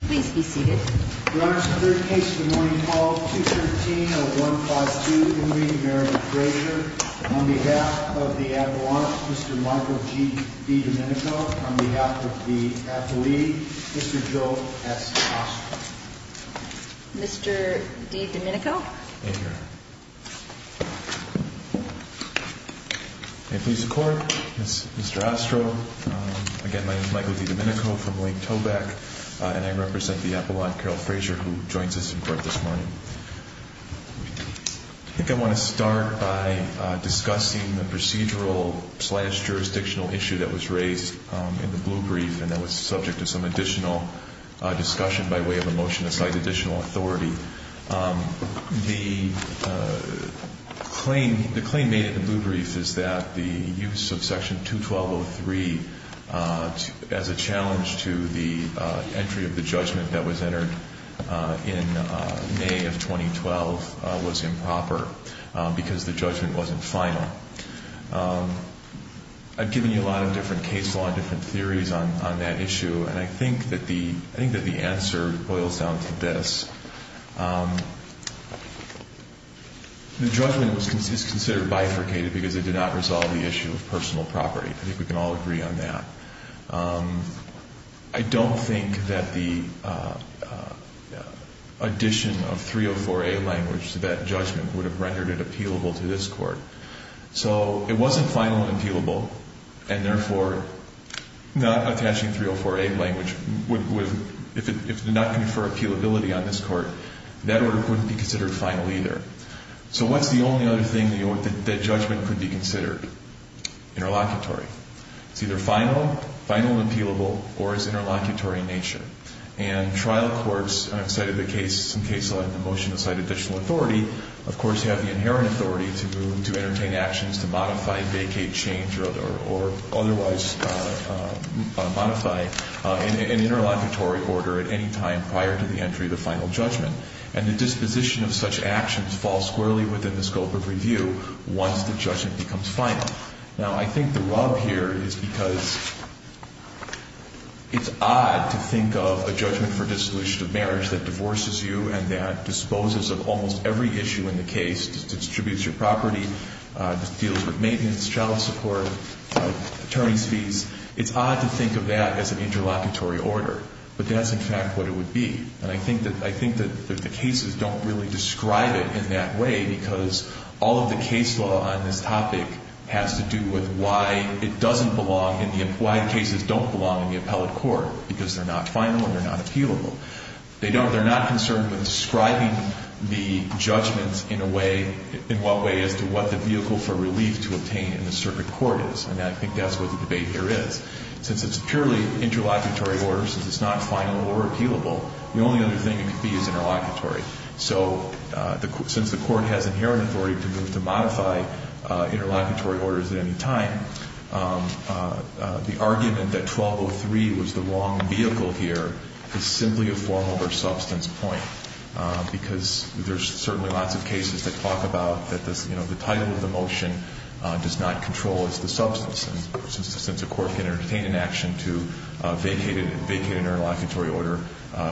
on behalf of the athlete. Mr. Joe. Mr. D. Domenico. I think I want to start by discussing the procedural slash jurisdictional issue that was raised in the blue brief and that was subject to some additional discussion by way of a motion to cite additional authority. The claim made in the blue brief is that the use of section 212.03 as a challenge to the entry of the judgment that was entered in May of 2012 was improper because the judgment wasn't final. I've given you a lot of different theories on that issue and I think that the answer boils down to this. The judgment is considered bifurcated because it did not resolve the issue of personal property. I think we can all agree on that. I don't think that the addition of 304A language to that judgment would have rendered it appealable to this court. So it wasn't final and appealable and therefore not attaching 304A language would, if it did not confer appealability on this court, that order wouldn't be considered final either. So what's the only other thing that judgment could be considered? Interlocutory. It's either final, final and appealable, or it's interlocutory in nature. And trial courts cited the case, some case law in the motion cited additional authority, of course you have the inherent authority to entertain actions to modify, vacate, change or otherwise modify an interlocutory order at any time prior to the entry of the final judgment. And the disposition of such actions falls squarely within the scope of review once the judgment becomes final. Now I think the rub here is because it's odd to think of a judgment for dissolution of marriage that divorces you and that disposes of almost every issue in the case, distributes your property, deals with maintenance, child support, attorney's fees, it's odd to think of that as an interlocutory order. But that's in fact what it would be. And I think that the cases don't really describe it in that way because all of the case law on this topic has to do with why it doesn't belong in the, why the cases don't belong in the appellate court, because they're not final and they're not appealable. They don't, they're not concerned with describing the judgments in a way, in what way as to what the vehicle for relief to obtain in the circuit court is. And I think that's what the debate here is. Since it's purely interlocutory order, since it's not final or appealable, the only other thing it could be is interlocutory. So since the court has inherent authority to move to modify interlocutory orders at any time, the argument that 1203 was the wrong vehicle here is simply a formal or substance point. Because there's certainly lots of cases that talk about that this, you know, the title of the motion does not control as the substance. And since the court can entertain an action to vacate an interlocutory order,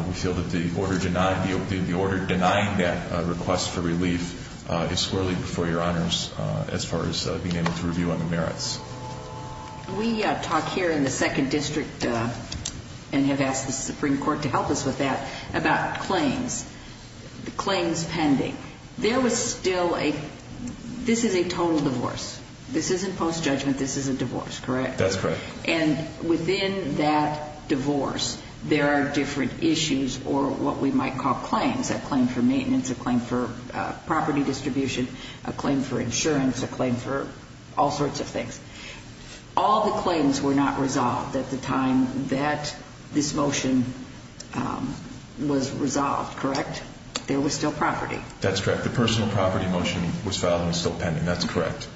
we feel that the order denying, the order denying that request for relief is swirly before your honors as far as being able to review on the merits. We talk here in the second district and have asked the Supreme Court to help us with that about claims. Claims pending. There was still a, this is a total divorce. This isn't post judgment, this is a divorce, correct? That's correct. And within that divorce, there are different issues or what we might call claims. A claim for maintenance, a claim for property distribution, a claim for insurance, a claim for all sorts of things. All the claims were not resolved at the time that this motion was resolved, correct? There was still property. That's correct. The personal property motion was filed and is still pending. That's correct.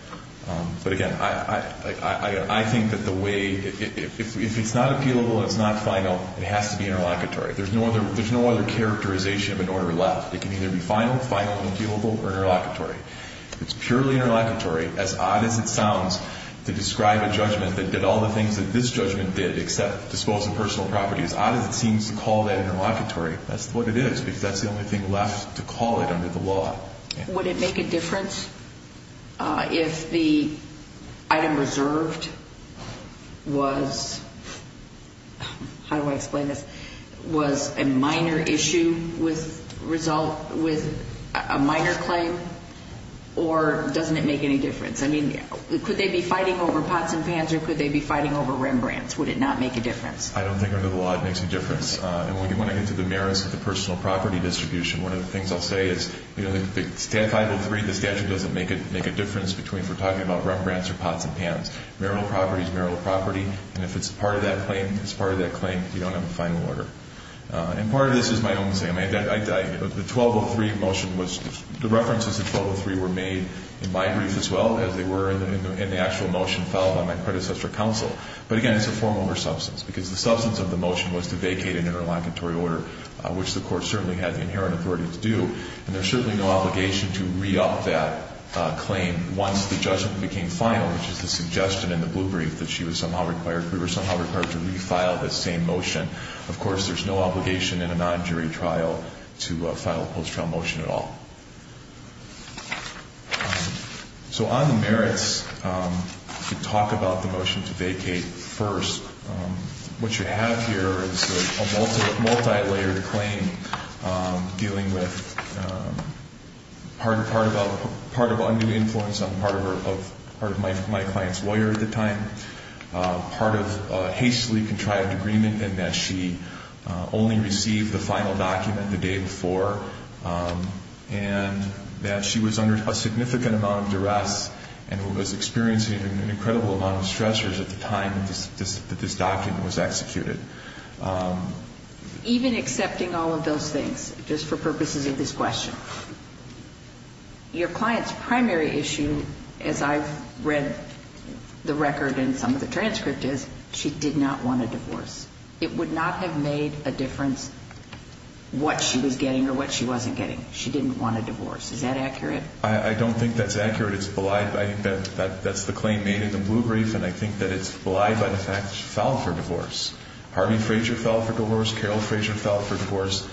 But again, I think that the way, if it's not appealable, it's not final, it has to be interlocutory. There's no other characterization of an order left. It can either be final, appealable or interlocutory. It's purely interlocutory, as odd as it sounds, to describe a judgment that did all the things that this judgment did except dispose of personal property. As odd as it seems to call that interlocutory, that's what it is because that's the only thing left to call it under the law. Would it make a difference if the item reserved was, how do I explain this, was a minor issue with result, with a minor claim? Or doesn't it make any difference? I mean, could they be fighting over pots and pans or could they be fighting over Rembrandts? Would it not make a difference? I don't think under the law it makes a difference. And when I get to the merits of the personal property distribution, one of the things I'll say is, you know, the statute doesn't make a difference between, if we're talking about Rembrandts or pots and pans. Marital property is marital property. And if it's part of that claim, it's part of that claim. You don't have a right to say, I mean, the 1203 motion was, the references to 1203 were made in my brief as well as they were in the actual motion filed by my predecessor counsel. But again, it's a form over substance because the substance of the motion was to vacate an interlocutory order, which the Court certainly had the inherent authority to do. And there's certainly no obligation to re-up that claim once the judgment became final, which is the suggestion in the blue brief that she was somehow required, we were somehow required to re-file that same motion. Of course, there's no obligation in a non-jury trial to file a post-trial motion at all. So on the merits, to talk about the motion to vacate first, what you have here is a multi-layered claim dealing with part of undue influence on part of my client's experience as a lawyer at the time, part of a hastily contrived agreement in that she only received the final document the day before, and that she was under a significant amount of duress and was experiencing an incredible amount of stressors at the time that this document was executed. Even accepting all of those things, just for purposes of this question, your client's primary issue, as I've read the record in some of the transcript, is she did not want a divorce. It would not have made a difference what she was getting or what she wasn't getting. She didn't want a divorce. Is that accurate? I don't think that's accurate. It's belied. I think that's the claim made in the blue brief, and I think that it's belied by the fact that she filed for divorce. Harvey Frazier filed for divorce. Carol Frazier filed for divorce.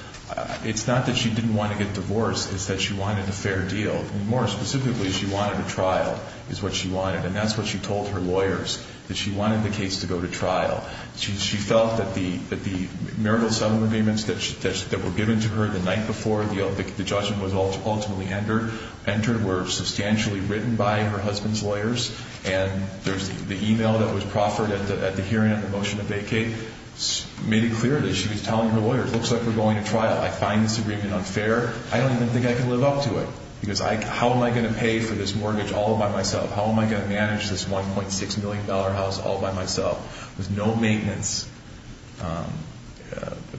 It's not that she didn't want to get divorced. It's that she wanted a fair deal. More specifically, she wanted a trial is what she wanted, and that's what she told her lawyers, that she wanted the case to go to trial. She felt that the marital settlement agreements that were given to her the night before the judgment was ultimately entered were substantially written by her husband's lawyers, and the email that was proffered at the hearing on the motion to vacate made it clear that she was telling her lawyers, it looks like we're going to trial. I find this agreement unfair. I don't even think I can live up to it, because how am I going to pay for this mortgage all by myself? How am I going to manage this $1.6 million house all by myself with no maintenance,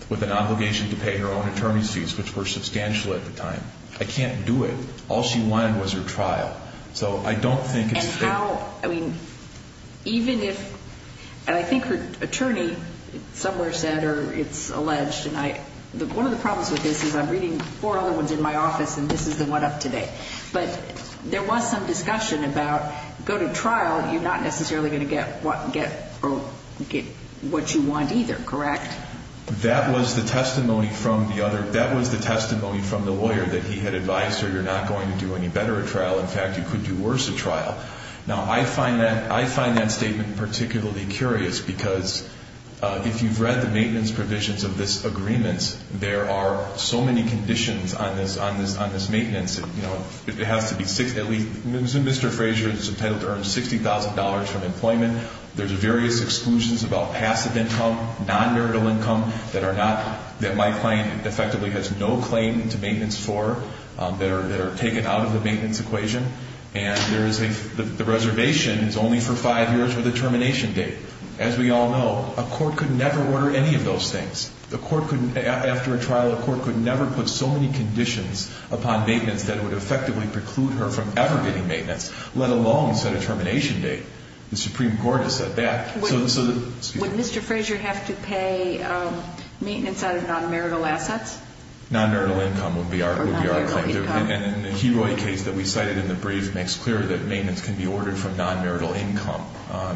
with an obligation to pay her own attorney's fees, which were substantial at the time? I can't do it. All she wanted was her trial. So I don't think it's fair. Even if, and I think her attorney somewhere said, or it's alleged, and one of the problems with this is I'm reading four other ones in my office, and this is the one up today. But there was some discussion about go to trial, you're not necessarily going to get what you want either, correct? That was the testimony from the lawyer that he had advised her, you're not going to do any better at trial. In fact, you could do worse at trial. Now, I find that statement particularly curious, because if you've read the maintenance provisions of this agreement, there are so many conditions on this maintenance. It has to be at least, Mr. Frazier is entitled to earn $60,000 from employment. There's various exclusions about passive income, non-marital income that are not, that my client effectively has no claim to maintenance for, that are only for five years with a termination date. As we all know, a court could never order any of those things. A court could, after a trial, a court could never put so many conditions upon maintenance that it would effectively preclude her from ever getting maintenance, let alone set a termination date. The Supreme Court has said that. Would Mr. Frazier have to pay maintenance out of non-marital assets? Or non-marital income. And the Heroi case that we cited in the brief makes clear that maintenance can be ordered from non-marital income.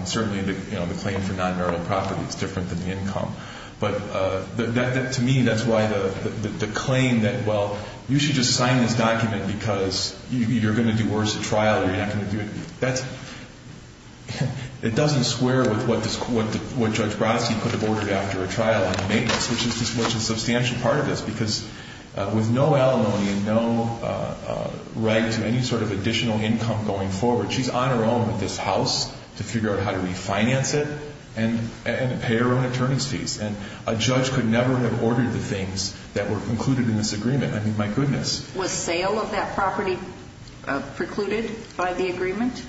Certainly the claim for non-marital property is different than the income. But to me, that's why the claim that, well, you should just sign this document because you're going to do worse at trial or you're not going to do it, that's, it doesn't square with what Judge Brodsky could have ordered after a trial on maintenance, which is a substantial part of this. Because with no alimony and no right to any sort of additional income going forward, she's on her own with this house to figure out how to refinance it and pay her own attorney's fees. And a judge could never have ordered the things that were included in this agreement. I mean, my goodness. Was sale of that property precluded by the agreement?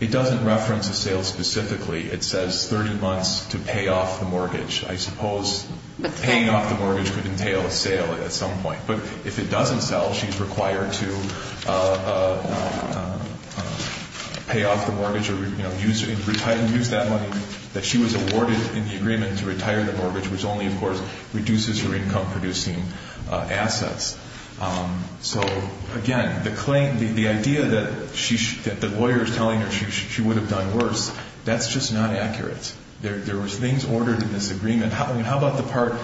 It doesn't reference a sale specifically. It says 30 months to pay off the mortgage or, you know, use that money that she was awarded in the agreement to retire the mortgage, which only, of course, reduces her income-producing assets. So, again, the claim, the idea that she, that the lawyer is telling her she would have done worse, that's just not accurate. There was things ordered in this agreement. I mean, how about the part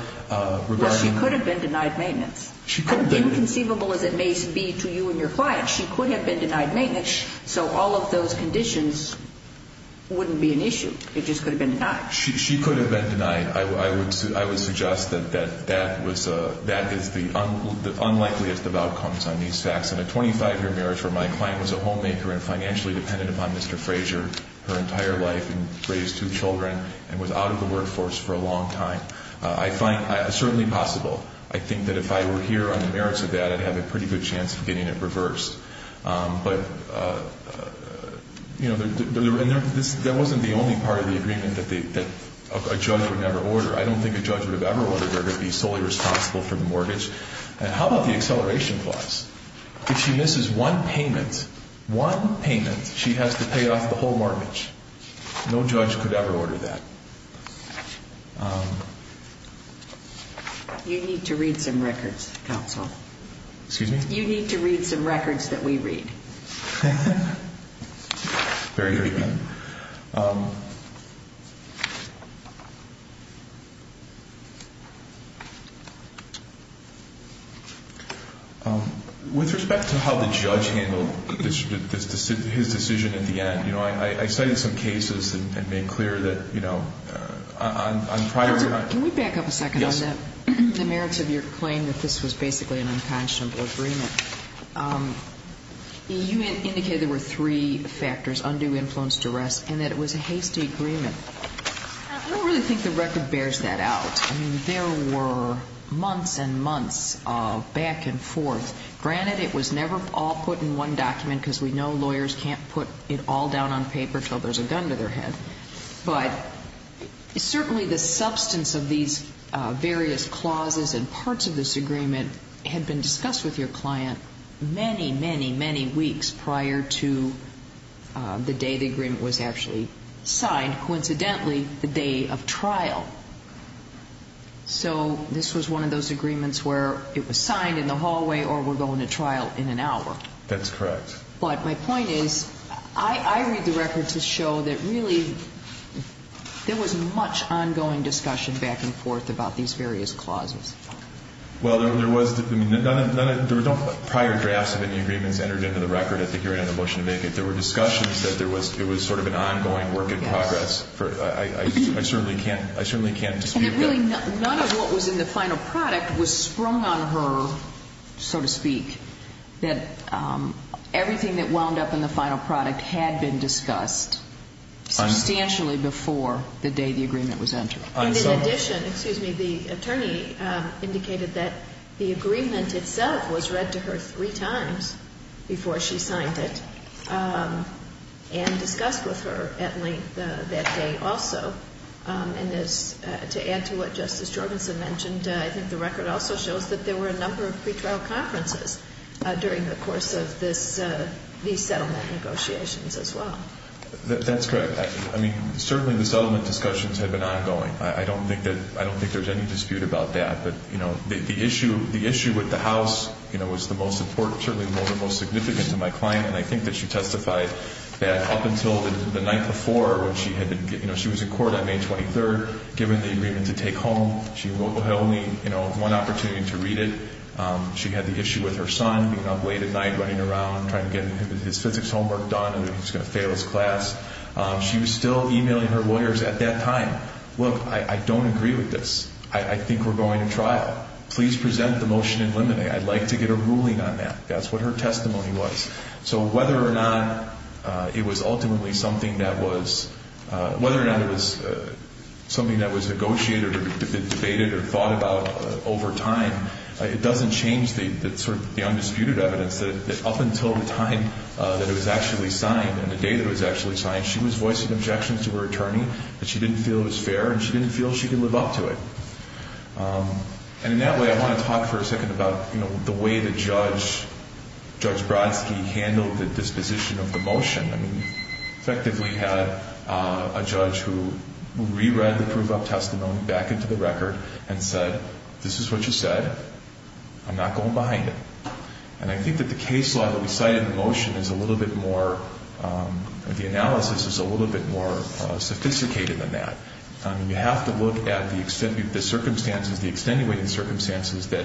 regarding Well, she could have been denied maintenance. How inconceivable as it may be to you and your clients, she could have been denied maintenance, so all of those conditions wouldn't be an issue. It just could have been denied. She could have been denied. I would suggest that that was, that is the unlikeliest of outcomes on these facts. In a 25-year marriage where my client was a homemaker and financially dependent upon Mr. Frazier her entire life and raised two children and was out of the workforce for a long time, I find, certainly possible. I think that if I were here on the merits of that, I'd have a pretty good chance of getting it reversed. But, you know, there wasn't the only part of the agreement that a judge would never order. I don't think a judge would have ever ordered her to be solely responsible for the mortgage. And how about the acceleration clause? If she misses one payment, one payment, she has to pay off the whole mortgage. No judge could ever order that. You need to read some records, counsel. Excuse me? You need to read some records that we read. Very good. With respect to how the judge handled his decision at the end, you know, I looked at some cases and made clear that, you know, on prior Can we back up a second on that? Yes. The merits of your claim that this was basically an unconscionable agreement. You indicated there were three factors, undue influence, duress, and that it was a hasty agreement. I don't really think the record bears that out. I mean, there were months and months of back and forth. Granted, it was never all put in one document because we know lawyers can't put it all down on the table. There's a gun to their head. But certainly the substance of these various clauses and parts of this agreement had been discussed with your client many, many, many weeks prior to the day the agreement was actually signed. Coincidentally, the day of trial. So this was one of those agreements where it was signed in the hallway or we're going to trial in an hour. That's correct. But my point is, I read the record to show that really there was much ongoing discussion back and forth about these various clauses. Well, there was. I mean, none of the prior drafts of any agreements entered into the record at the hearing on the motion to make it. There were discussions that there was sort of an ongoing work in progress. Yes. I certainly can't dispute that. And that really none of what was in the final product was sprung on her, so to speak, that everything that wound up in the final product had been discussed substantially before the day the agreement was entered. And in addition, excuse me, the attorney indicated that the agreement itself was read to her three times before she signed it and discussed with her at length that day also. And to add to what Justice Jorgensen mentioned, I think the record also shows that there were a number of pretrial conferences during the course of these settlement negotiations as well. That's correct. I mean, certainly the settlement discussions had been ongoing. I don't think there's any dispute about that. But, you know, the issue with the House, you know, was the most important, certainly the most significant to my client. And I think that she testified that up until the night before when she was in court on May 23rd, given the agreement to take home, she had only, you know, one opportunity to read it. She had the issue with her son being up late at night running around trying to get his physics homework done and he was going to fail his class. She was still emailing her lawyers at that time, look, I don't agree with this. I think we're going to trial. Please present the motion in limine. I'd like to get a ruling on that. That's what her testimony was. So whether or not it was ultimately something that was, whether or not it was something that was negotiated or debated or thought about over time, it doesn't change the undisputed evidence that up until the time that it was actually signed and the day that it was actually signed, she was voicing objections to her attorney that she didn't feel it was fair and she didn't feel she could live up to it. And in that way, I want to talk for a second about, you know, the way that Judge Brodsky handled the disposition of the motion. I mean, effectively had a judge who re-read the proof of testimony back into the record and said, this is what you said. I'm not going behind it. And I think that the case law that we cited in the motion is a little bit more, the analysis is a little bit more sophisticated than that. I mean, you have to look at the circumstances, the extenuating circumstances that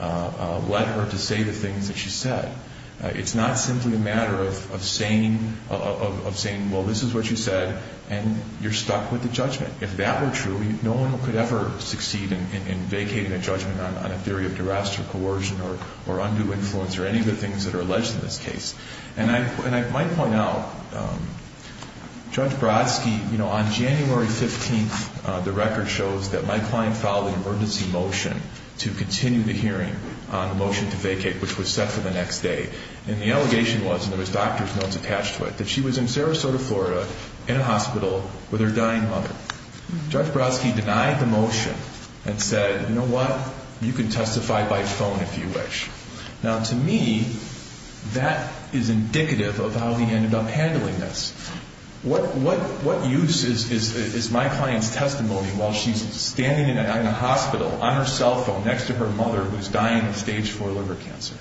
led her to say the things that she said. It's not simply a matter of saying, well, this is what you said, and you're stuck with the judgment. If that were true, no one could ever succeed in vacating a judgment on a theory of duress or coercion or undue influence or any of the things that are alleged in this case. And I might point out, Judge Brodsky, you know, on January 15th, the record shows that my client filed an emergency motion to continue the hearing on the motion to vacate, which was set for the next day. And the allegation was, and there was doctor's notes attached to it, that she was in Sarasota, Florida, in a hospital with her dying mother. Judge Brodsky denied the motion and said, you know what, you can testify by phone if you wish. Now, to me, that is indicative of how he ended up handling this. What use is my client's testimony while she's standing in a hospital on her cell phone next to her mother who's dying of stage 4 liver cancer?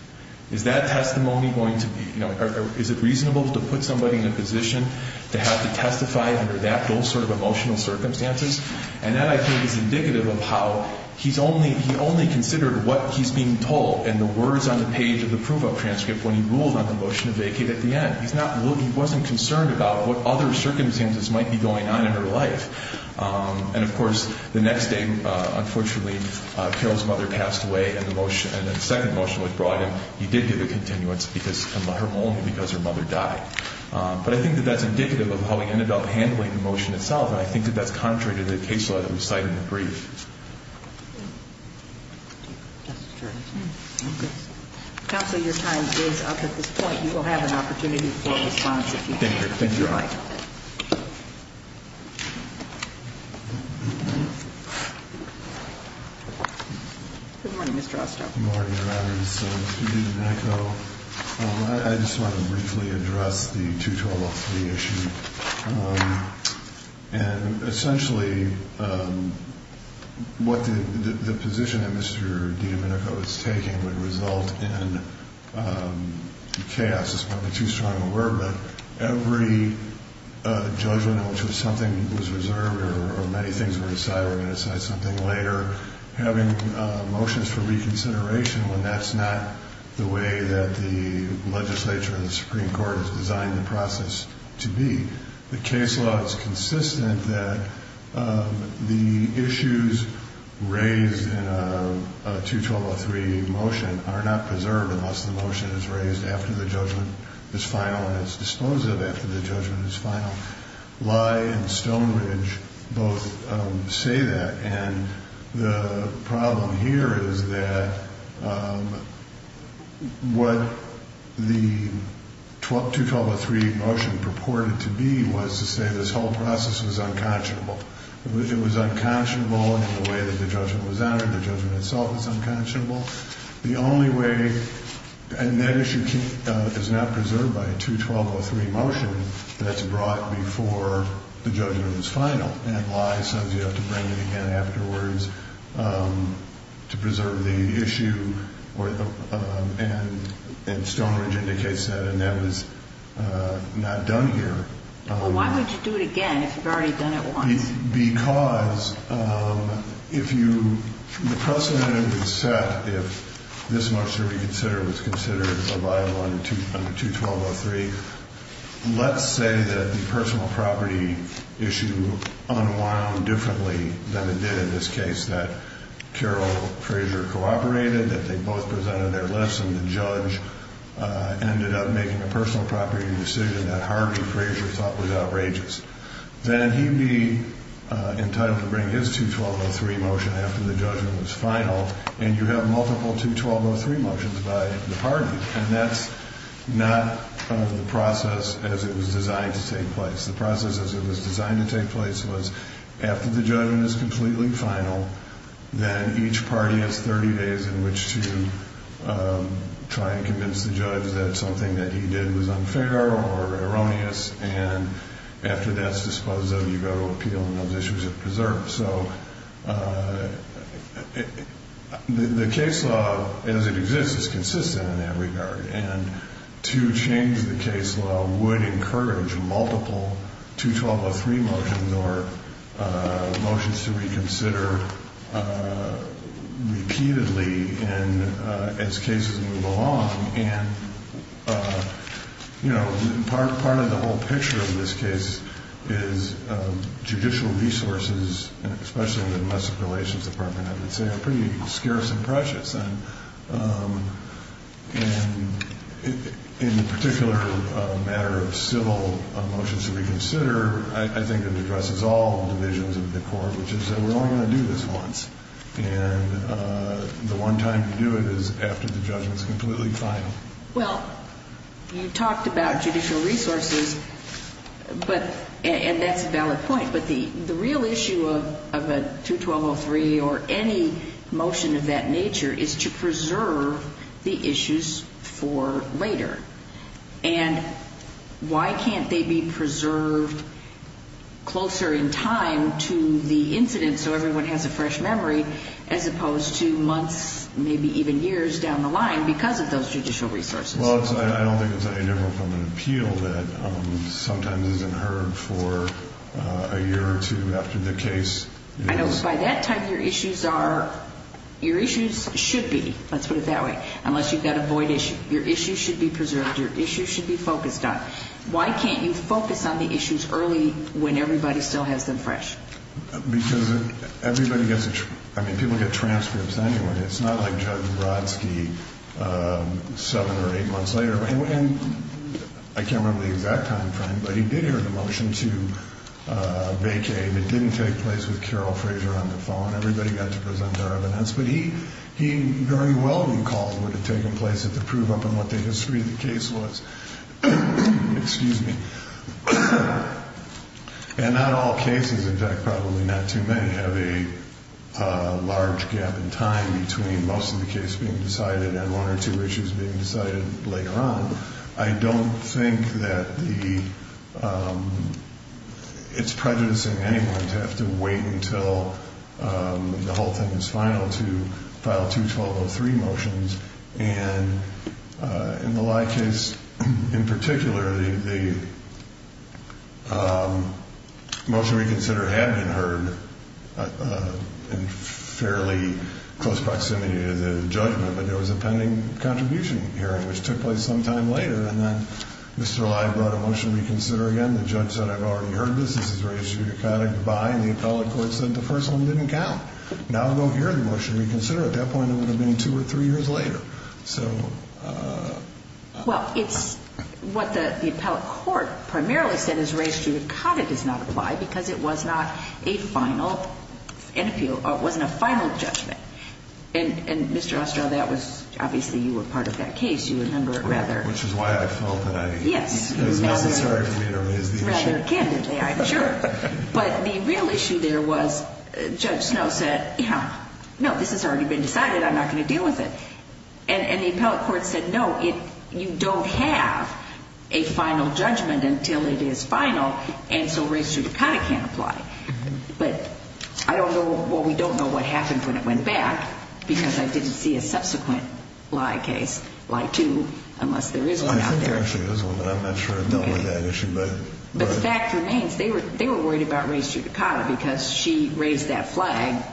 Is that testimony going to be, you know, is it reasonable to put somebody in a position to have to testify under those sort of emotional circumstances? And that, I think, is indicative of how he only considered what he's being told and the words on the page of the proof-of-transcript when he ruled on the motion to vacate at the end. He wasn't concerned about what other circumstances might be going on in her life. And, of course, the next day, unfortunately, Carol's mother passed away, and the second motion was brought in. He did get a continuance because her mother died. But I think that that's indicative of how he ended up handling the motion itself, and I think that that's contrary to the case letter we cite in the brief. Counsel, your time is up at this point. You will have an opportunity for a response if you'd like. Thank you. Thank you. All right. Good morning, Mr. Oster. Good morning, Your Honors. Mr. DiDomenico, I just want to briefly address the two-to-a-month fee issue. And, essentially, what the position that Mr. DiDomenico is taking would result in chaos. It's probably too strong a word, but every judgment in which something was reserved or many things were decided were going to decide something later, having motions for reconsideration when that's not the way that the legislature and the Supreme Court has designed the process to be. The case law is consistent that the issues raised in a 212.03 motion are not preserved unless the motion is raised after the judgment is final and is disposed of after the judgment is final. Lye and Stonebridge both say that. And the problem here is that what the 212.03 motion purported to be was to say this whole process was unconscionable. It was unconscionable in the way that the judgment was honored. The judgment itself was unconscionable. The only way, and that issue is not preserved by a 212.03 motion that's brought before the judgment is final. And Lye says you have to bring it again afterwards to preserve the issue. And Stonebridge indicates that, and that was not done here. Well, why would you do it again if you've already done it once? Because if you – the precedent was set if this motion to reconsider was considered under 212.03, let's say that the personal property issue unwound differently than it did in this case, that Carol Frazier cooperated, that they both presented their lists, and the judge ended up making a personal property decision that Harvey Frazier thought was outrageous. Then he'd be entitled to bring his 212.03 motion after the judgment was final, and you have multiple 212.03 motions by the party. And that's not the process as it was designed to take place. The process as it was designed to take place was after the judgment is completely final, then each party has 30 days in which to try and convince the judge that something that he did was unfair or erroneous, and after that's disposed of, you go to appeal and those issues are preserved. So the case law as it exists is consistent in that regard, and to change the case law would encourage multiple 212.03 motions or motions to reconsider repeatedly as cases move along. And, you know, part of the whole picture of this case is judicial resources, especially in the domestic relations department, I would say, are pretty scarce and precious. And in the particular matter of civil motions to reconsider, I think it addresses all divisions of the court, which is that we're only going to do this once. And the one time to do it is after the judgment is completely final. Well, you talked about judicial resources, and that's a valid point, but the real issue of a 212.03 or any motion of that nature is to preserve the issues for later. And why can't they be preserved closer in time to the incident so everyone has a fresh memory as opposed to months, maybe even years down the line because of those judicial resources? Well, I don't think it's any different from an appeal that sometimes isn't heard for a year or two after the case. I know. By that time, your issues should be, let's put it that way, unless you've got a void issue. Your issues should be preserved. Your issues should be focused on. Why can't you focus on the issues early when everybody still has them fresh? Because everybody gets it. I mean, people get transcripts anyway. It's not like Judge Brodsky seven or eight months later. And I can't remember the exact time frame, but he did hear the motion to vacate. It didn't take place with Carol Frazier on the phone. Everybody got to present their evidence. But he very well recalled what had taken place to prove up on what the history of the case was. Excuse me. And not all cases, in fact probably not too many, have a large gap in time between most of the case being decided and one or two issues being decided later on. I don't think that it's prejudicing anyone to have to wait until the whole thing is final to file two 1203 motions. And in the Lye case in particular, the motion to reconsider had been heard in fairly close proximity to the judgment, but there was a pending contribution hearing, which took place some time later. And then Mr. Lye brought a motion to reconsider again. The judge said, I've already heard this. This is very pseudoconic. Goodbye. And the appellate court said the first one didn't count. Now go hear the motion to reconsider. At that point it would have been two or three years later. So. Well, it's what the appellate court primarily said is raised here. It kind of does not apply because it was not a final, it wasn't a final judgment. And Mr. Ostrow, that was obviously you were part of that case. You remember it rather. Which is why I felt that it was necessary for me to raise the issue. Rather candidly, I'm sure. But the real issue there was Judge Snow said, no, this has already been decided. I'm not going to deal with it. And the appellate court said, no, you don't have a final judgment until it is final. And so raised pseudoconic can't apply. But I don't know. Well, we don't know what happened when it went back because I didn't see a subsequent lie case, lie two, unless there is one out there. I think there actually is one, but I'm not sure it dealt with that issue. But the fact remains, they were worried about raised pseudoconic because she raised that flag.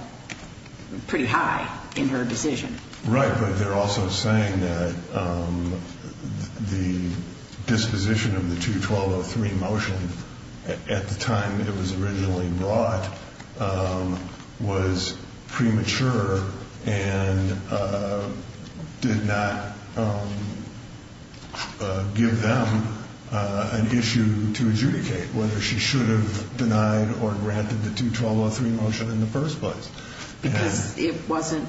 Pretty high in her decision. Right. But they're also saying that the disposition of the 2-1203 motion at the time it was originally brought was premature and did not give them an issue to adjudicate whether she should have denied or granted the 2-1203 motion in the first place. Because it wasn't,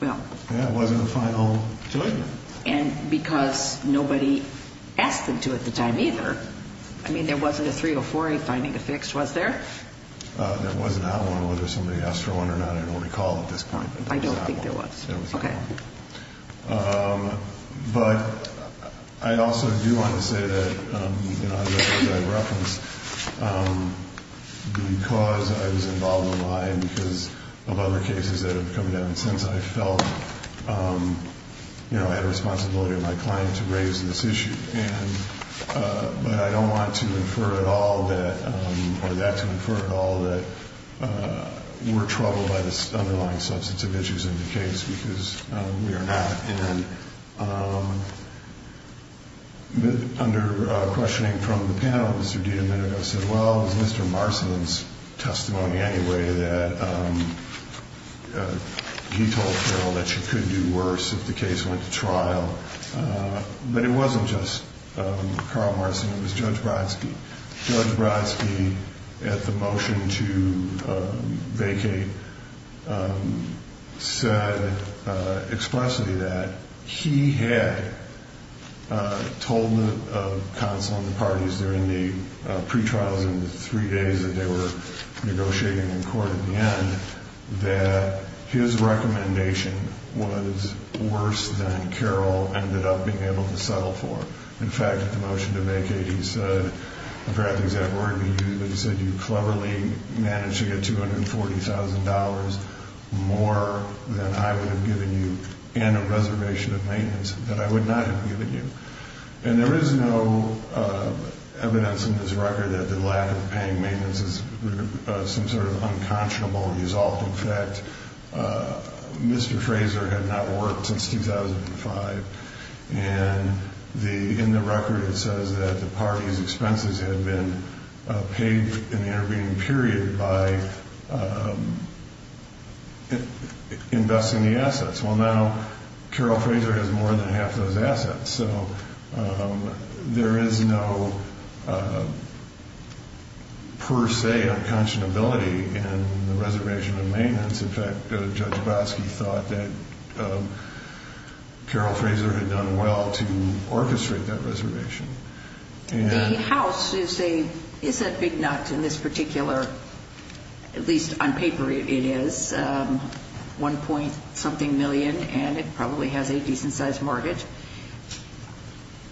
well. Yeah, it wasn't a final judgment. And because nobody asked them to at the time either. I mean, there wasn't a 304A finding affixed, was there? There was not one. Whether somebody asked for one or not, I don't recall at this point. I don't think there was. There was not one. Okay. But I also do want to say that, as I referenced, because I was involved in the lie and because of other cases that have come down since, I felt I had a responsibility on my client to raise this issue. But I don't want to infer at all that, or that to infer at all that we're troubled by the underlying substance of issues in the case because we are not. And under questioning from the panel, Mr. DiDomenico said, well, it was Mr. Marcin's testimony anyway that he told Phil that she could do worse if the case went to trial. But it wasn't just Carl Marcin. It was Judge Brodsky. Judge Brodsky, at the motion to vacate, said expressly that he had told the counsel and the parties during the pretrials and the three days that they were negotiating in court at the end that his recommendation was worse than Carl ended up being able to settle for. In fact, at the motion to vacate, he said, I forget the exact word he used, but he said you cleverly managed to get $240,000 more than I would have given you and a reservation of maintenance that I would not have given you. And there is no evidence in this record that the lack of paying maintenance is some sort of unconscionable result. In fact, Mr. Fraser had not worked since 2005, and in the record it says that the parties' expenses had been paid in the intervening period by investing the assets. Well, now Carol Fraser has more than half those assets, so there is no per se unconscionability in the reservation of maintenance. In fact, Judge Brodsky thought that Carol Fraser had done well to orchestrate that reservation. The house is a big nut in this particular, at least on paper it is, 1 point something million, and it probably has a decent sized mortgage.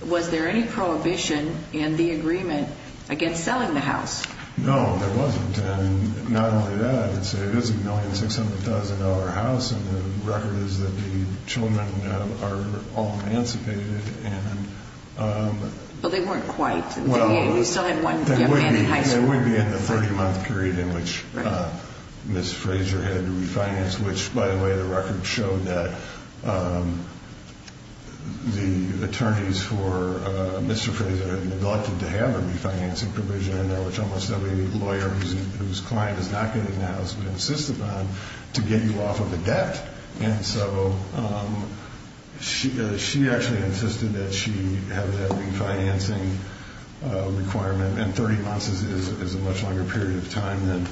Was there any prohibition in the agreement against selling the house? No, there wasn't. And not only that, it is a $1,600,000 house, and the record is that the children are all emancipated. Well, they weren't quite. There would be in the 30-month period in which Ms. Fraser had refinanced, which, by the way, the record showed that the attorneys for Mr. Fraser had neglected to have a refinancing provision in there, which almost every lawyer whose client is not good in the house would insist upon, to get you off of the debt. And so she actually insisted that she have that refinancing requirement, and 30 months is a much longer period of time than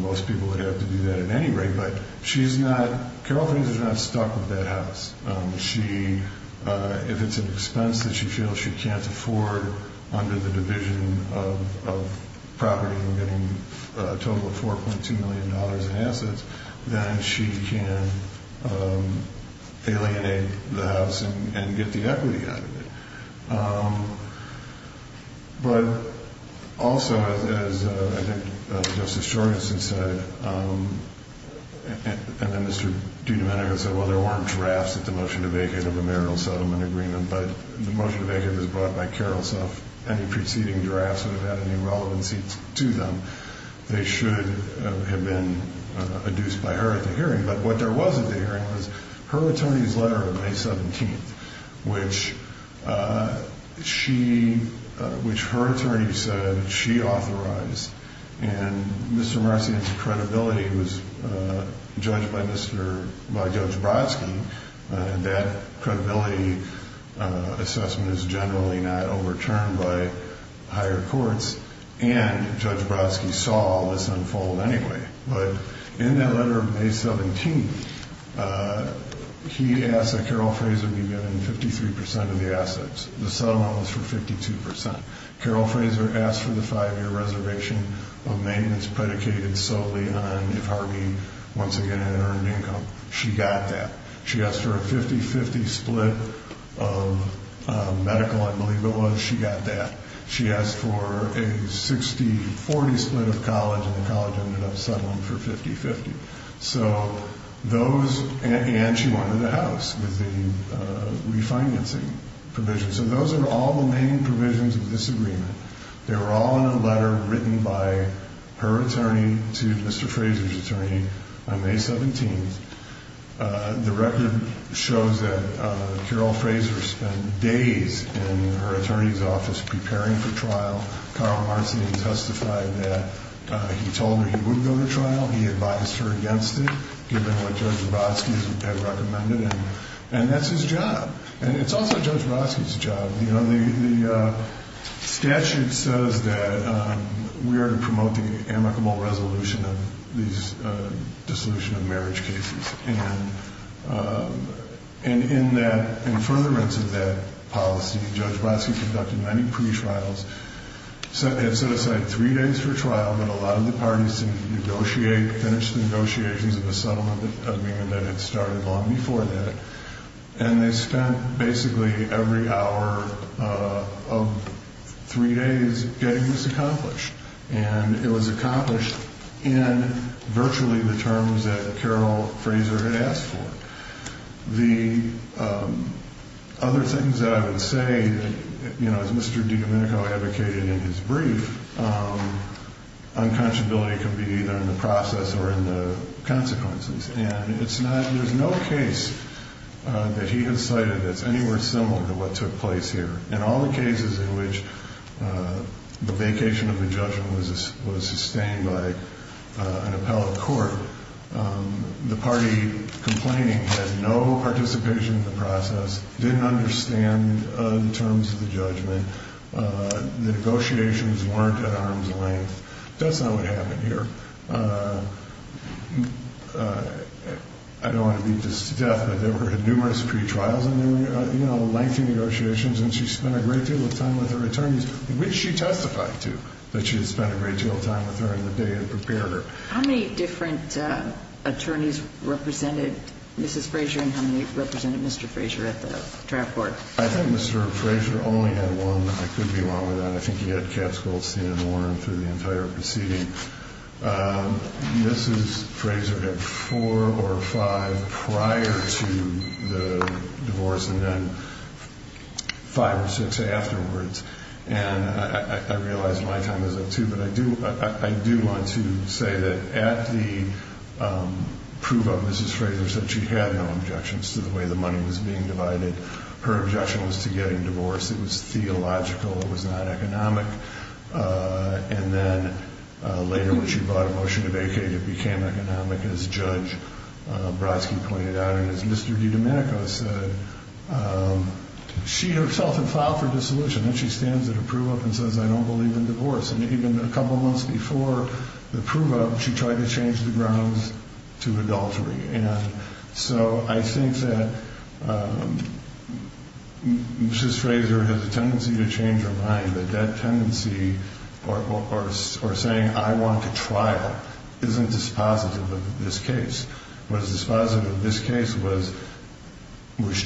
most people would have to do that at any rate. But she's not, Carol Fraser's not stuck with that house. She, if it's an expense that she feels she can't afford under the division of property and getting a total of $4.2 million in assets, then she can alienate the house and get the equity out of it. But also, as I think Justice Jorgensen said, and then Mr. Dudenberger said, well, there weren't drafts at the motion to vacate of the marital settlement agreement, but the motion to vacate was brought by Carol. So if any preceding drafts would have had any relevancy to them, they should have been adduced by her at the hearing. But what there wasn't at the hearing was her attorney's letter of May 17th, which she, which her attorney said she authorized. And Mr. Marcian's credibility was judged by Judge Brodsky, and that credibility assessment is generally not overturned by higher courts, and Judge Brodsky saw this unfold anyway. But in that letter of May 17th, he asked that Carol Fraser be given 53% of the assets. The settlement was for 52%. Carol Fraser asked for the five-year reservation of maintenance predicated solely on if Harvey once again had earned income. She got that. She asked for a 50-50 split of medical, I believe it was. She got that. She asked for a 60-40 split of college, and the college ended up settling for 50-50. So those, and she wanted a house with the refinancing provision. So those are all the main provisions of this agreement. They were all in a letter written by her attorney to Mr. Fraser's attorney on May 17th. The record shows that Carol Fraser spent days in her attorney's office preparing for trial. Carl Marcian testified that he told her he wouldn't go to trial. He advised her against it, given what Judge Brodsky had recommended, and that's his job. And it's also Judge Brodsky's job. You know, the statute says that we are to promote the amicable resolution of these dissolution of marriage cases. And in that, in furtherance of that policy, Judge Brodsky conducted many pre-trials, had set aside three days for trial, but a lot of the parties seemed to negotiate, finish the negotiations of the settlement agreement that had started long before that. And they spent basically every hour of three days getting this accomplished. And it was accomplished in virtually the terms that Carol Fraser had asked for. The other things that I would say, you know, as Mr. DiDomenico advocated in his brief, unconscionability can be either in the process or in the consequences. And it's not, there's no case that he has cited that's anywhere similar to what took place here. In all the cases in which the vacation of the judgment was sustained by an appellate court, the party complaining had no participation in the process, didn't understand the terms of the judgment, the negotiations weren't at arm's length. That's not what happened here. I don't want to beat this to death, but there were numerous pre-trials, and there were, you know, lengthy negotiations. And she spent a great deal of time with her attorneys, which she testified to that she had spent a great deal of time with her in the day and prepared her. How many different attorneys represented Mrs. Fraser and how many represented Mr. Fraser at the trial court? I think Mr. Fraser only had one. I could be wrong with that. I think he had Katz, Goldstein, and Warren through the entire proceeding. Mrs. Fraser had four or five prior to the divorce and then five or six afterwards. And I realize my time is up, too, but I do want to say that at the proof of Mrs. Fraser said she had no objections to the way the money was being divided. Her objection was to getting divorced. It was theological. It was not economic. And then later when she brought a motion to vacate, it became economic, as Judge Brodsky pointed out. And as Mr. DiDomenico said, she herself had filed for dissolution. And she stands at a proof of and says, I don't believe in divorce. And even a couple months before the proof of, she tried to change the grounds to adultery. And so I think that Mrs. Fraser has a tendency to change her mind, but that tendency or saying I want to trial isn't dispositive of this case. What is dispositive of this case was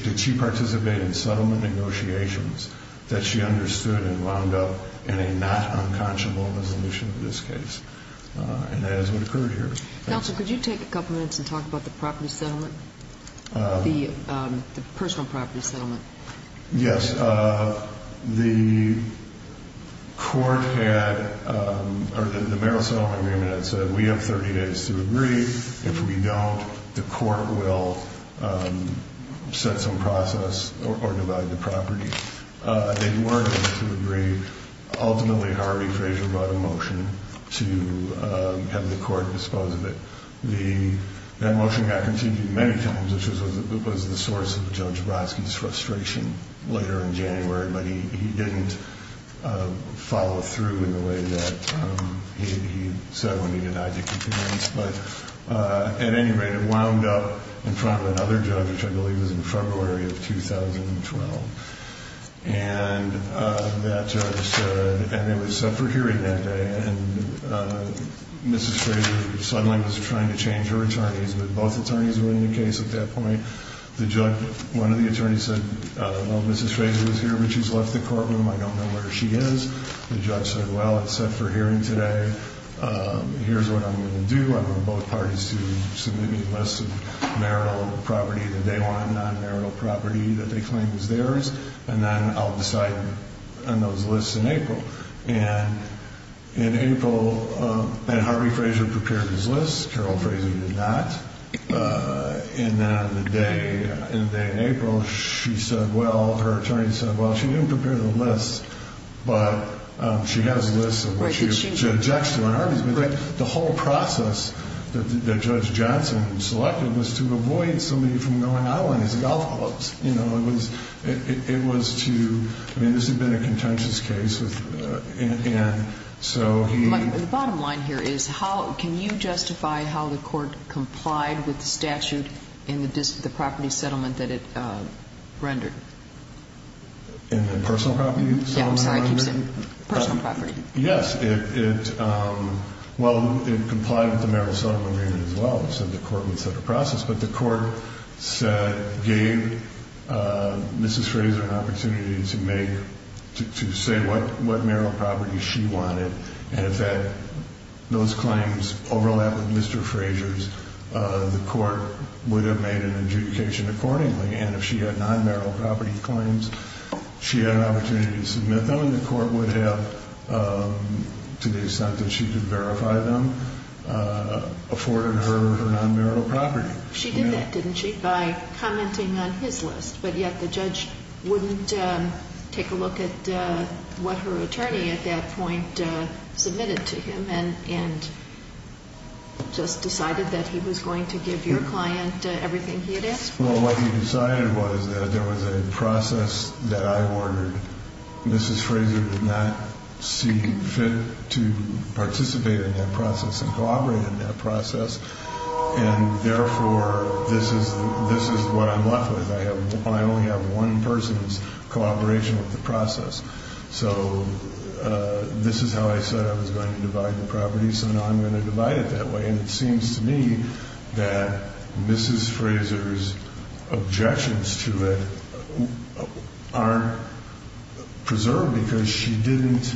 did she participate in settlement negotiations that she understood and wound up in a not unconscionable resolution of this case. And that is what occurred here. Counsel, could you take a couple minutes and talk about the property settlement, the personal property settlement? Yes. The court had or the mayoral settlement agreement had said we have 30 days to agree. If we don't, the court will set some process or divide the property. They weren't able to agree. Ultimately, Harvey Fraser brought a motion to have the court dispose of it. That motion got continued many times, which was the source of Judge Brodsky's frustration later in January. But he didn't follow through in the way that he said when he denied the complaints. But at any rate, it wound up in front of another judge, which I believe was in February of 2012. And that judge said, and it was set for hearing that day, and Mrs. Fraser suddenly was trying to change her attorneys, but both attorneys were in the case at that point. One of the attorneys said, well, Mrs. Fraser was here, but she's left the courtroom. I don't know where she is. The judge said, well, it's set for hearing today. Here's what I'm going to do. I want both parties to submit me a list of marital property that they want, non-marital property that they claim is theirs, and then I'll decide on those lists in April. And in April, Harvey Fraser prepared his list. Carol Fraser did not. And then on the day in April, she said, well, her attorney said, well, she didn't prepare the list, but she has a list of what she objects to. The whole process that Judge Johnson selected was to avoid somebody from going out on his golf clubs. You know, it was to, I mean, this had been a contentious case, and so he. The bottom line here is how, can you justify how the court complied with the statute in the property settlement that it rendered? In the personal property settlement? Yeah, I'm sorry, I keep saying personal property. Yes, it, well, it complied with the marital settlement as well, so the court would set a process. But the court gave Mrs. Fraser an opportunity to make, to say what marital property she wanted, and if those claims overlap with Mr. Fraser's, the court would have made an adjudication accordingly. And if she had non-marital property claims, she had an opportunity to submit them, and the court would have, to the extent that she could verify them, afforded her her non-marital property. She did that, didn't she, by commenting on his list, but yet the judge wouldn't take a look at what her attorney at that point submitted to him and just decided that he was going to give your client everything he had asked for. Well, what he decided was that there was a process that I ordered. Mrs. Fraser did not see fit to participate in that process and collaborate in that process, and therefore this is what I'm left with. I only have one person's collaboration with the process. So this is how I said I was going to divide the property, so now I'm going to divide it that way. And it seems to me that Mrs. Fraser's objections to it are preserved because she didn't,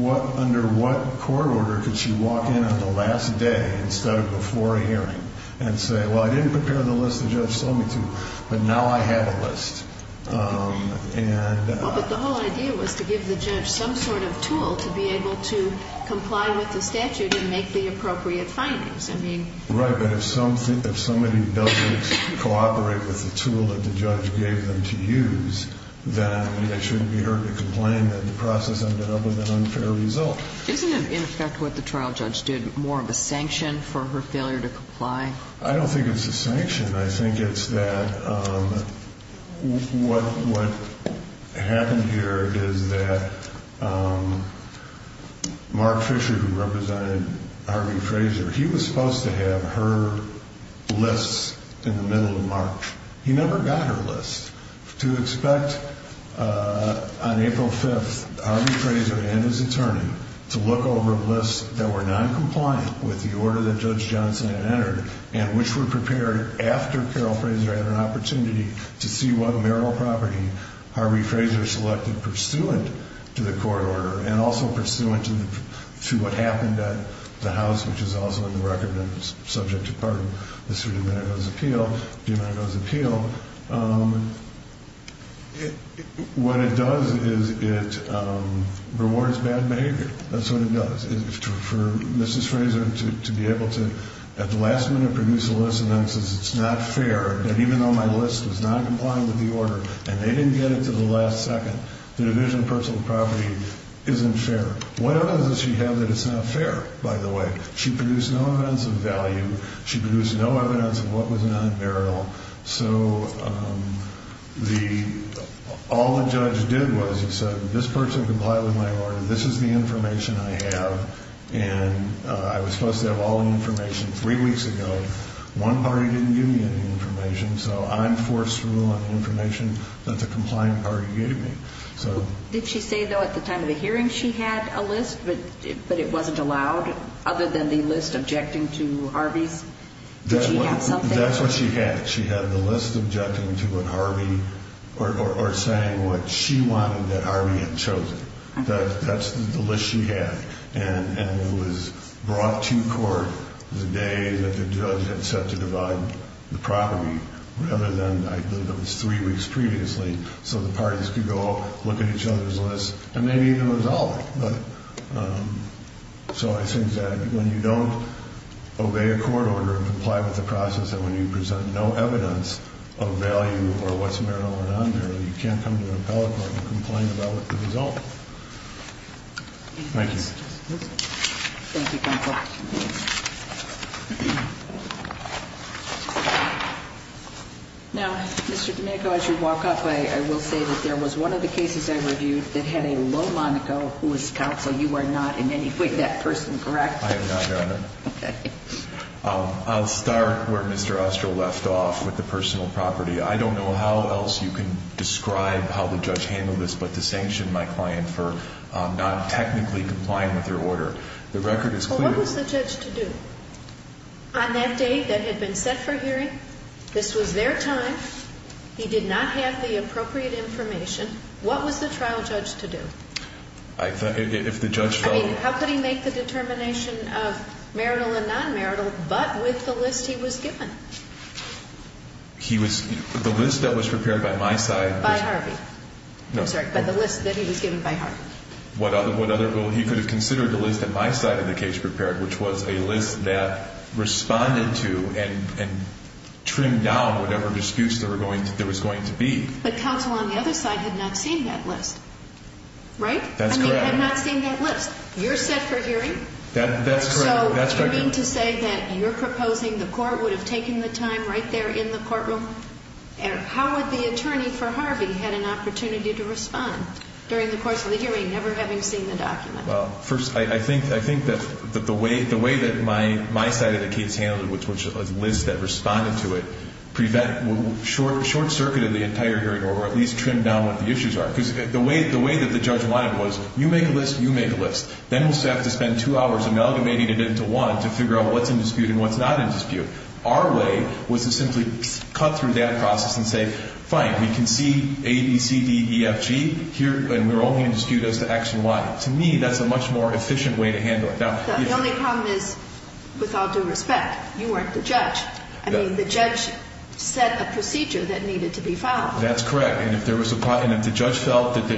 under what court order could she walk in on the last day instead of before a hearing and say, well, I didn't prepare the list the judge sold me to, but now I have a list. Well, but the whole idea was to give the judge some sort of tool to be able to comply with the statute and make the appropriate findings. Right, but if somebody doesn't cooperate with the tool that the judge gave them to use, then it shouldn't be hard to complain that the process ended up with an unfair result. Isn't it, in effect, what the trial judge did, more of a sanction for her failure to comply? I don't think it's a sanction. I think it's that what happened here is that Mark Fisher, who represented Harvey Fraser, he was supposed to have her list in the middle of March. He never got her list. To expect on April 5th Harvey Fraser and his attorney to look over lists that were noncompliant with the order that Judge Johnson had entered and which were prepared after Carole Fraser had an opportunity to see what marital property Harvey Fraser selected pursuant to the court order and also pursuant to what happened at the house, which is also in the record and is subject to part of Mr. DiMarco's appeal, what it does is it rewards bad behavior. That's what it does. For Mrs. Fraser to be able to at the last minute produce a list and then says it's not fair that even though my list was noncompliant with the order and they didn't get it to the last second, the division of personal property isn't fair. What evidence does she have that it's not fair, by the way? She produced no evidence of value. She produced no evidence of what was not marital. So all the judge did was he said, this person complied with my order. This is the information I have, and I was supposed to have all the information three weeks ago. One party didn't give me any information, so I'm forceful on the information that the compliant party gave me. Did she say, though, at the time of the hearing she had a list, but it wasn't allowed, other than the list objecting to Harvey's? Did she have something? That's what she had. She had the list objecting to what Harvey or saying what she wanted that Harvey had chosen. That's the list she had, and it was brought to court the day that the judge had set to divide the property, rather than, I believe it was three weeks previously, so the parties could go look at each other's lists and maybe even resolve it. So I think that when you don't obey a court order and comply with the process, and when you present no evidence of value or what's marital or non-marital, you can't come to an appellate court and complain about the result. Thank you. Thank you, counsel. Now, Mr. Domenico, as you walk up, I will say that there was one of the cases I reviewed that had a low Monaco who was counsel. You are not in any way that person, correct? I have not, Your Honor. Okay. I'll start where Mr. Ostro left off with the personal property. I don't know how else you can describe how the judge handled this, but to sanction my client for not technically complying with your order. The record is clear. Well, what was the judge to do? On that day that had been set for hearing, this was their time. He did not have the appropriate information. What was the trial judge to do? I thought if the judge felt – I mean, how could he make the determination of marital and non-marital, but with the list he was given? He was – the list that was prepared by my side – By Harvey. No. I'm sorry. By the list that he was given by Harvey. What other – he could have considered the list that my side of the case prepared, which was a list that responded to and trimmed down whatever disputes there was going to be. But counsel on the other side had not seen that list. Right? That's correct. I mean, had not seen that list. You're set for hearing. That's correct. So, you mean to say that you're proposing the court would have taken the time right there in the courtroom? How would the attorney for Harvey had an opportunity to respond during the course of the hearing, never having seen the document? Well, first, I think that the way that my side of the case handled it, which was a list that responded to it, short-circuited the entire hearing or at least trimmed down what the issues are. Because the way that the judge wanted was, you make a list, you make a list. Then we'll have to spend two hours amalgamating it into one to figure out what's in dispute and what's not in dispute. Our way was to simply cut through that process and say, fine, we can see A, B, C, D, E, F, G, and we're only in dispute as to X and Y. To me, that's a much more efficient way to handle it. The only problem is, with all due respect, you weren't the judge. I mean, the judge set a procedure that needed to be followed. That's correct. And if the judge felt that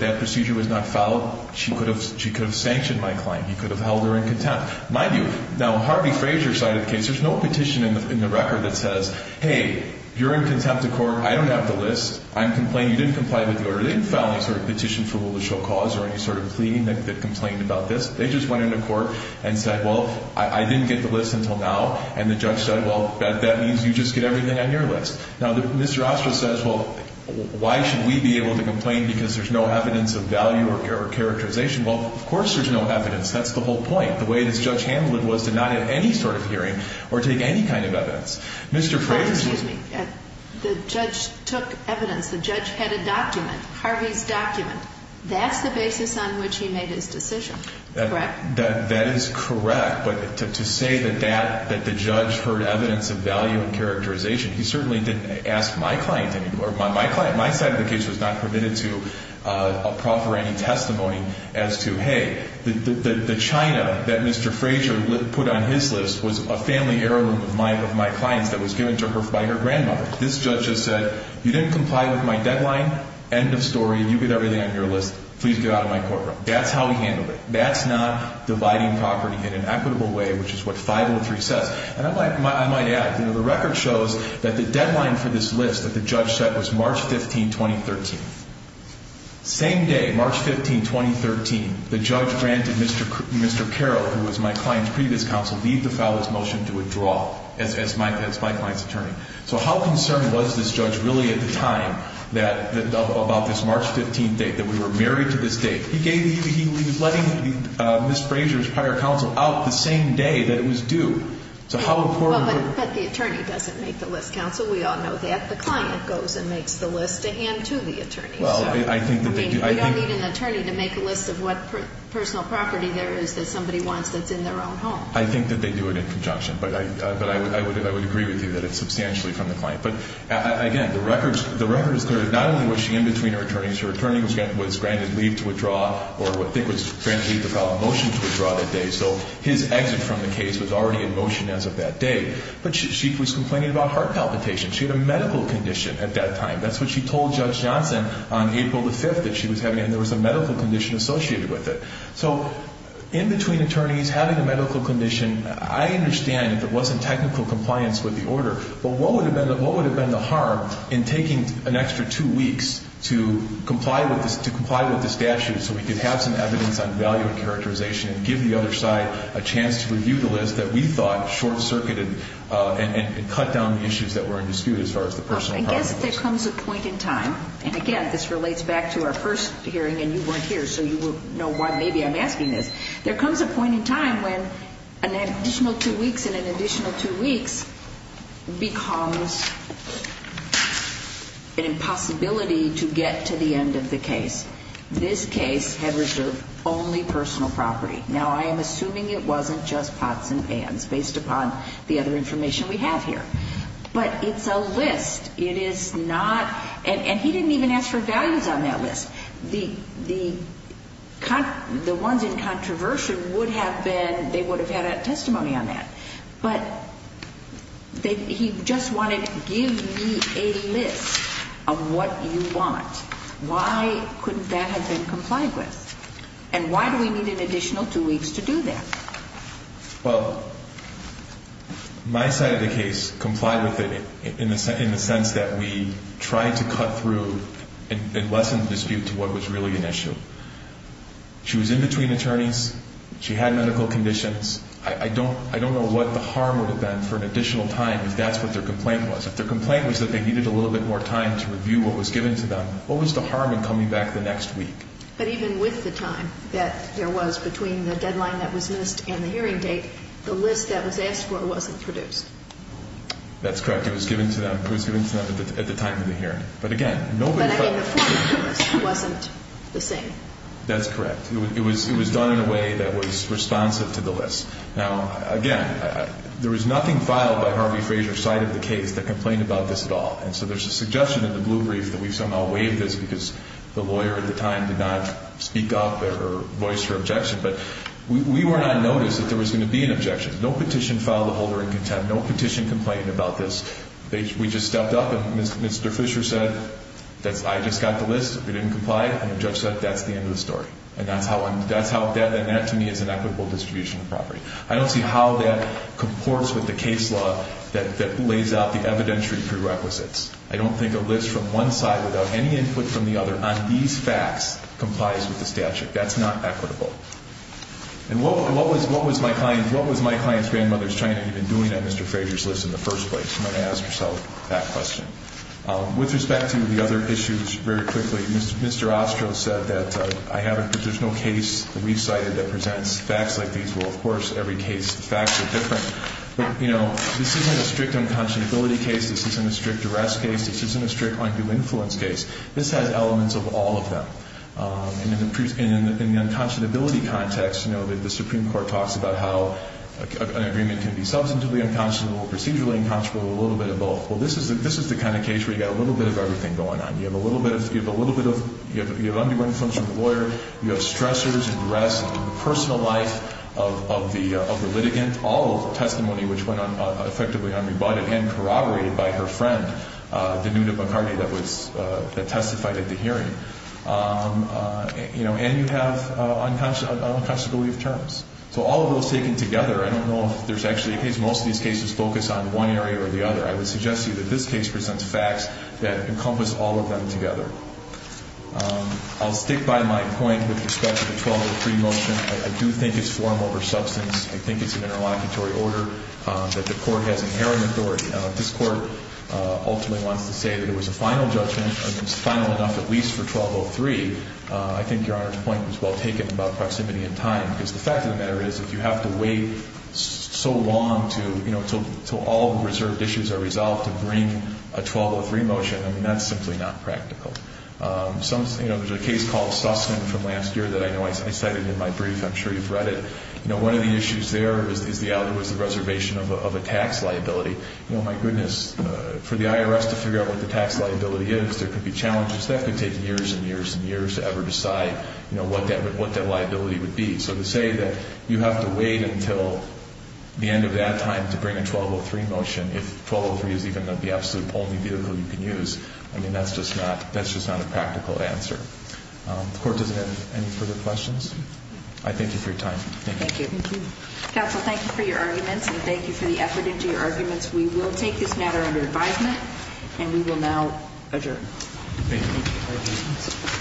that procedure was not followed, she could have sanctioned my claim. He could have held her in contempt. Mind you, now, Harvey Frazier's side of the case, there's no petition in the record that says, hey, you're in contempt of court, I don't have the list, I'm complaining, you didn't comply with the order. They didn't file any sort of petition for will to show cause or any sort of pleading that complained about this. They just went into court and said, well, I didn't get the list until now, and the judge said, well, that means you just get everything on your list. Now, Mr. Ostra says, well, why should we be able to complain because there's no evidence of value or characterization? Well, of course there's no evidence. That's the whole point. The way this judge handled it was to not have any sort of hearing or take any kind of evidence. Mr. Frazier's... Excuse me. The judge took evidence. The judge had a document, Harvey's document. That's the basis on which he made his decision. Correct? That is correct. But to say that the judge heard evidence of value and characterization, he certainly didn't ask my client anymore. My side of the case was not permitted to offer any testimony as to, hey, the china that Mr. Frazier put on his list was a family heirloom of my client's that was given to her by her grandmother. This judge just said, you didn't comply with my deadline, end of story, you get everything on your list, please get out of my courtroom. That's how he handled it. That's not dividing property in an equitable way, which is what 503 says. And I might add, the record shows that the deadline for this list that the judge set was March 15, 2013. Same day, March 15, 2013, the judge granted Mr. Carroll, who was my client's previous counsel, leave to file his motion to withdraw as my client's attorney. So how concerned was this judge really at the time about this March 15 date, that we were married to this date? He was letting Ms. Frazier's prior counsel out the same day that it was due. So how important was it? But the attorney doesn't make the list, counsel. We all know that. The client goes and makes the list to hand to the attorney. Well, I think that they do. I mean, you don't need an attorney to make a list of what personal property there is that somebody wants that's in their own home. I think that they do it in conjunction. But I would agree with you that it's substantially from the client. But, again, the record is clear. Not only was she in between her attorneys, her attorney was granted leave to withdraw, or I think was granted leave to file a motion to withdraw that day. So his exit from the case was already in motion as of that day. But she was complaining about heart palpitations. She had a medical condition at that time. That's what she told Judge Johnson on April the 5th that she was having, and there was a medical condition associated with it. So in between attorneys having a medical condition, I understand if it wasn't technical compliance with the order. But what would have been the harm in taking an extra two weeks to comply with the statute so we could have some evidence on value and characterization and give the other side a chance to review the list that we thought short-circuited and cut down the issues that were in dispute as far as the personal property. I guess there comes a point in time, and, again, this relates back to our first hearing and you weren't here, so you will know why maybe I'm asking this. There comes a point in time when an additional two weeks and an additional two weeks becomes an impossibility to get to the end of the case. This case had reserved only personal property. Now, I am assuming it wasn't just pots and pans based upon the other information we have here. But it's a list. It is not, and he didn't even ask for values on that list. The ones in controversy would have been, they would have had a testimony on that. But he just wanted, give me a list of what you want. Why couldn't that have been complied with? And why do we need an additional two weeks to do that? Well, my side of the case complied with it in the sense that we tried to cut through and lessen the dispute to what was really an issue. She was in between attorneys. She had medical conditions. I don't know what the harm would have been for an additional time if that's what their complaint was. If their complaint was that they needed a little bit more time to review what was given to them, what was the harm in coming back the next week? But even with the time that there was between the deadline that was missed and the hearing date, the list that was asked for wasn't produced. That's correct. It was given to them at the time of the hearing. But, again, nobody felt the list wasn't the same. That's correct. It was done in a way that was responsive to the list. Now, again, there was nothing filed by Harvey Fraser's side of the case that complained about this at all. And so there's a suggestion in the blue brief that we've somehow waived this because the lawyer at the time did not speak up or voice her objection. But we were not noticed that there was going to be an objection. No petition filed a holder in contempt. No petition complained about this. We just stepped up, and Mr. Fisher said, I just got the list. We didn't comply. And the judge said, that's the end of the story. And that, to me, is an equitable distribution of property. I don't see how that comports with the case law that lays out the evidentiary prerequisites. I don't think a list from one side without any input from the other on these facts complies with the statute. That's not equitable. And what was my client's grandmother's China even doing on Mr. Fraser's list in the first place? You might ask yourself that question. With respect to the other issues, very quickly, Mr. Ostro said that I have a positional case that we've cited that presents facts like these. Well, of course, every case, the facts are different. But, you know, this isn't a strict unconscionability case. This isn't a strict arrest case. This isn't a strict undue influence case. This has elements of all of them. And in the unconscionability context, you know, the Supreme Court talks about how an agreement can be substantively unconscionable, procedurally unconscionable, a little bit of both. Well, this is the kind of case where you've got a little bit of everything going on. You have a little bit of undue influence from the lawyer. You have stressors and arrests and the personal life of the litigant, all of the testimony which went on effectively unrebutted and corroborated by her friend, Danita McCarty, that testified at the hearing. You know, and you have unconscionably of terms. So all of those taken together, I don't know if there's actually a case. Most of these cases focus on one area or the other. I would suggest to you that this case presents facts that encompass all of them together. I'll stick by my point with respect to the 1203 motion. I do think it's form over substance. I think it's an interlocutory order that the Court has inherent authority. This Court ultimately wants to say that it was a final judgment, and it's final enough at least for 1203. I think Your Honor's point was well taken about proximity and time, because the fact of the matter is if you have to wait so long to, you know, until all reserved issues are resolved to bring a 1203 motion, I mean, that's simply not practical. You know, there's a case called Sussman from last year that I know I cited in my brief. I'm sure you've read it. You know, one of the issues there was the reservation of a tax liability. You know, my goodness, for the IRS to figure out what the tax liability is, there could be challenges that could take years and years and years to ever decide, you know, what that liability would be. So to say that you have to wait until the end of that time to bring a 1203 motion, if 1203 is even the absolute only vehicle you can use, I mean, that's just not a practical answer. The Court doesn't have any further questions? I thank you for your time. Thank you. Thank you. Counsel, thank you for your arguments, and thank you for the effort into your arguments. We will take this matter under advisement, and we will now adjourn. Thank you.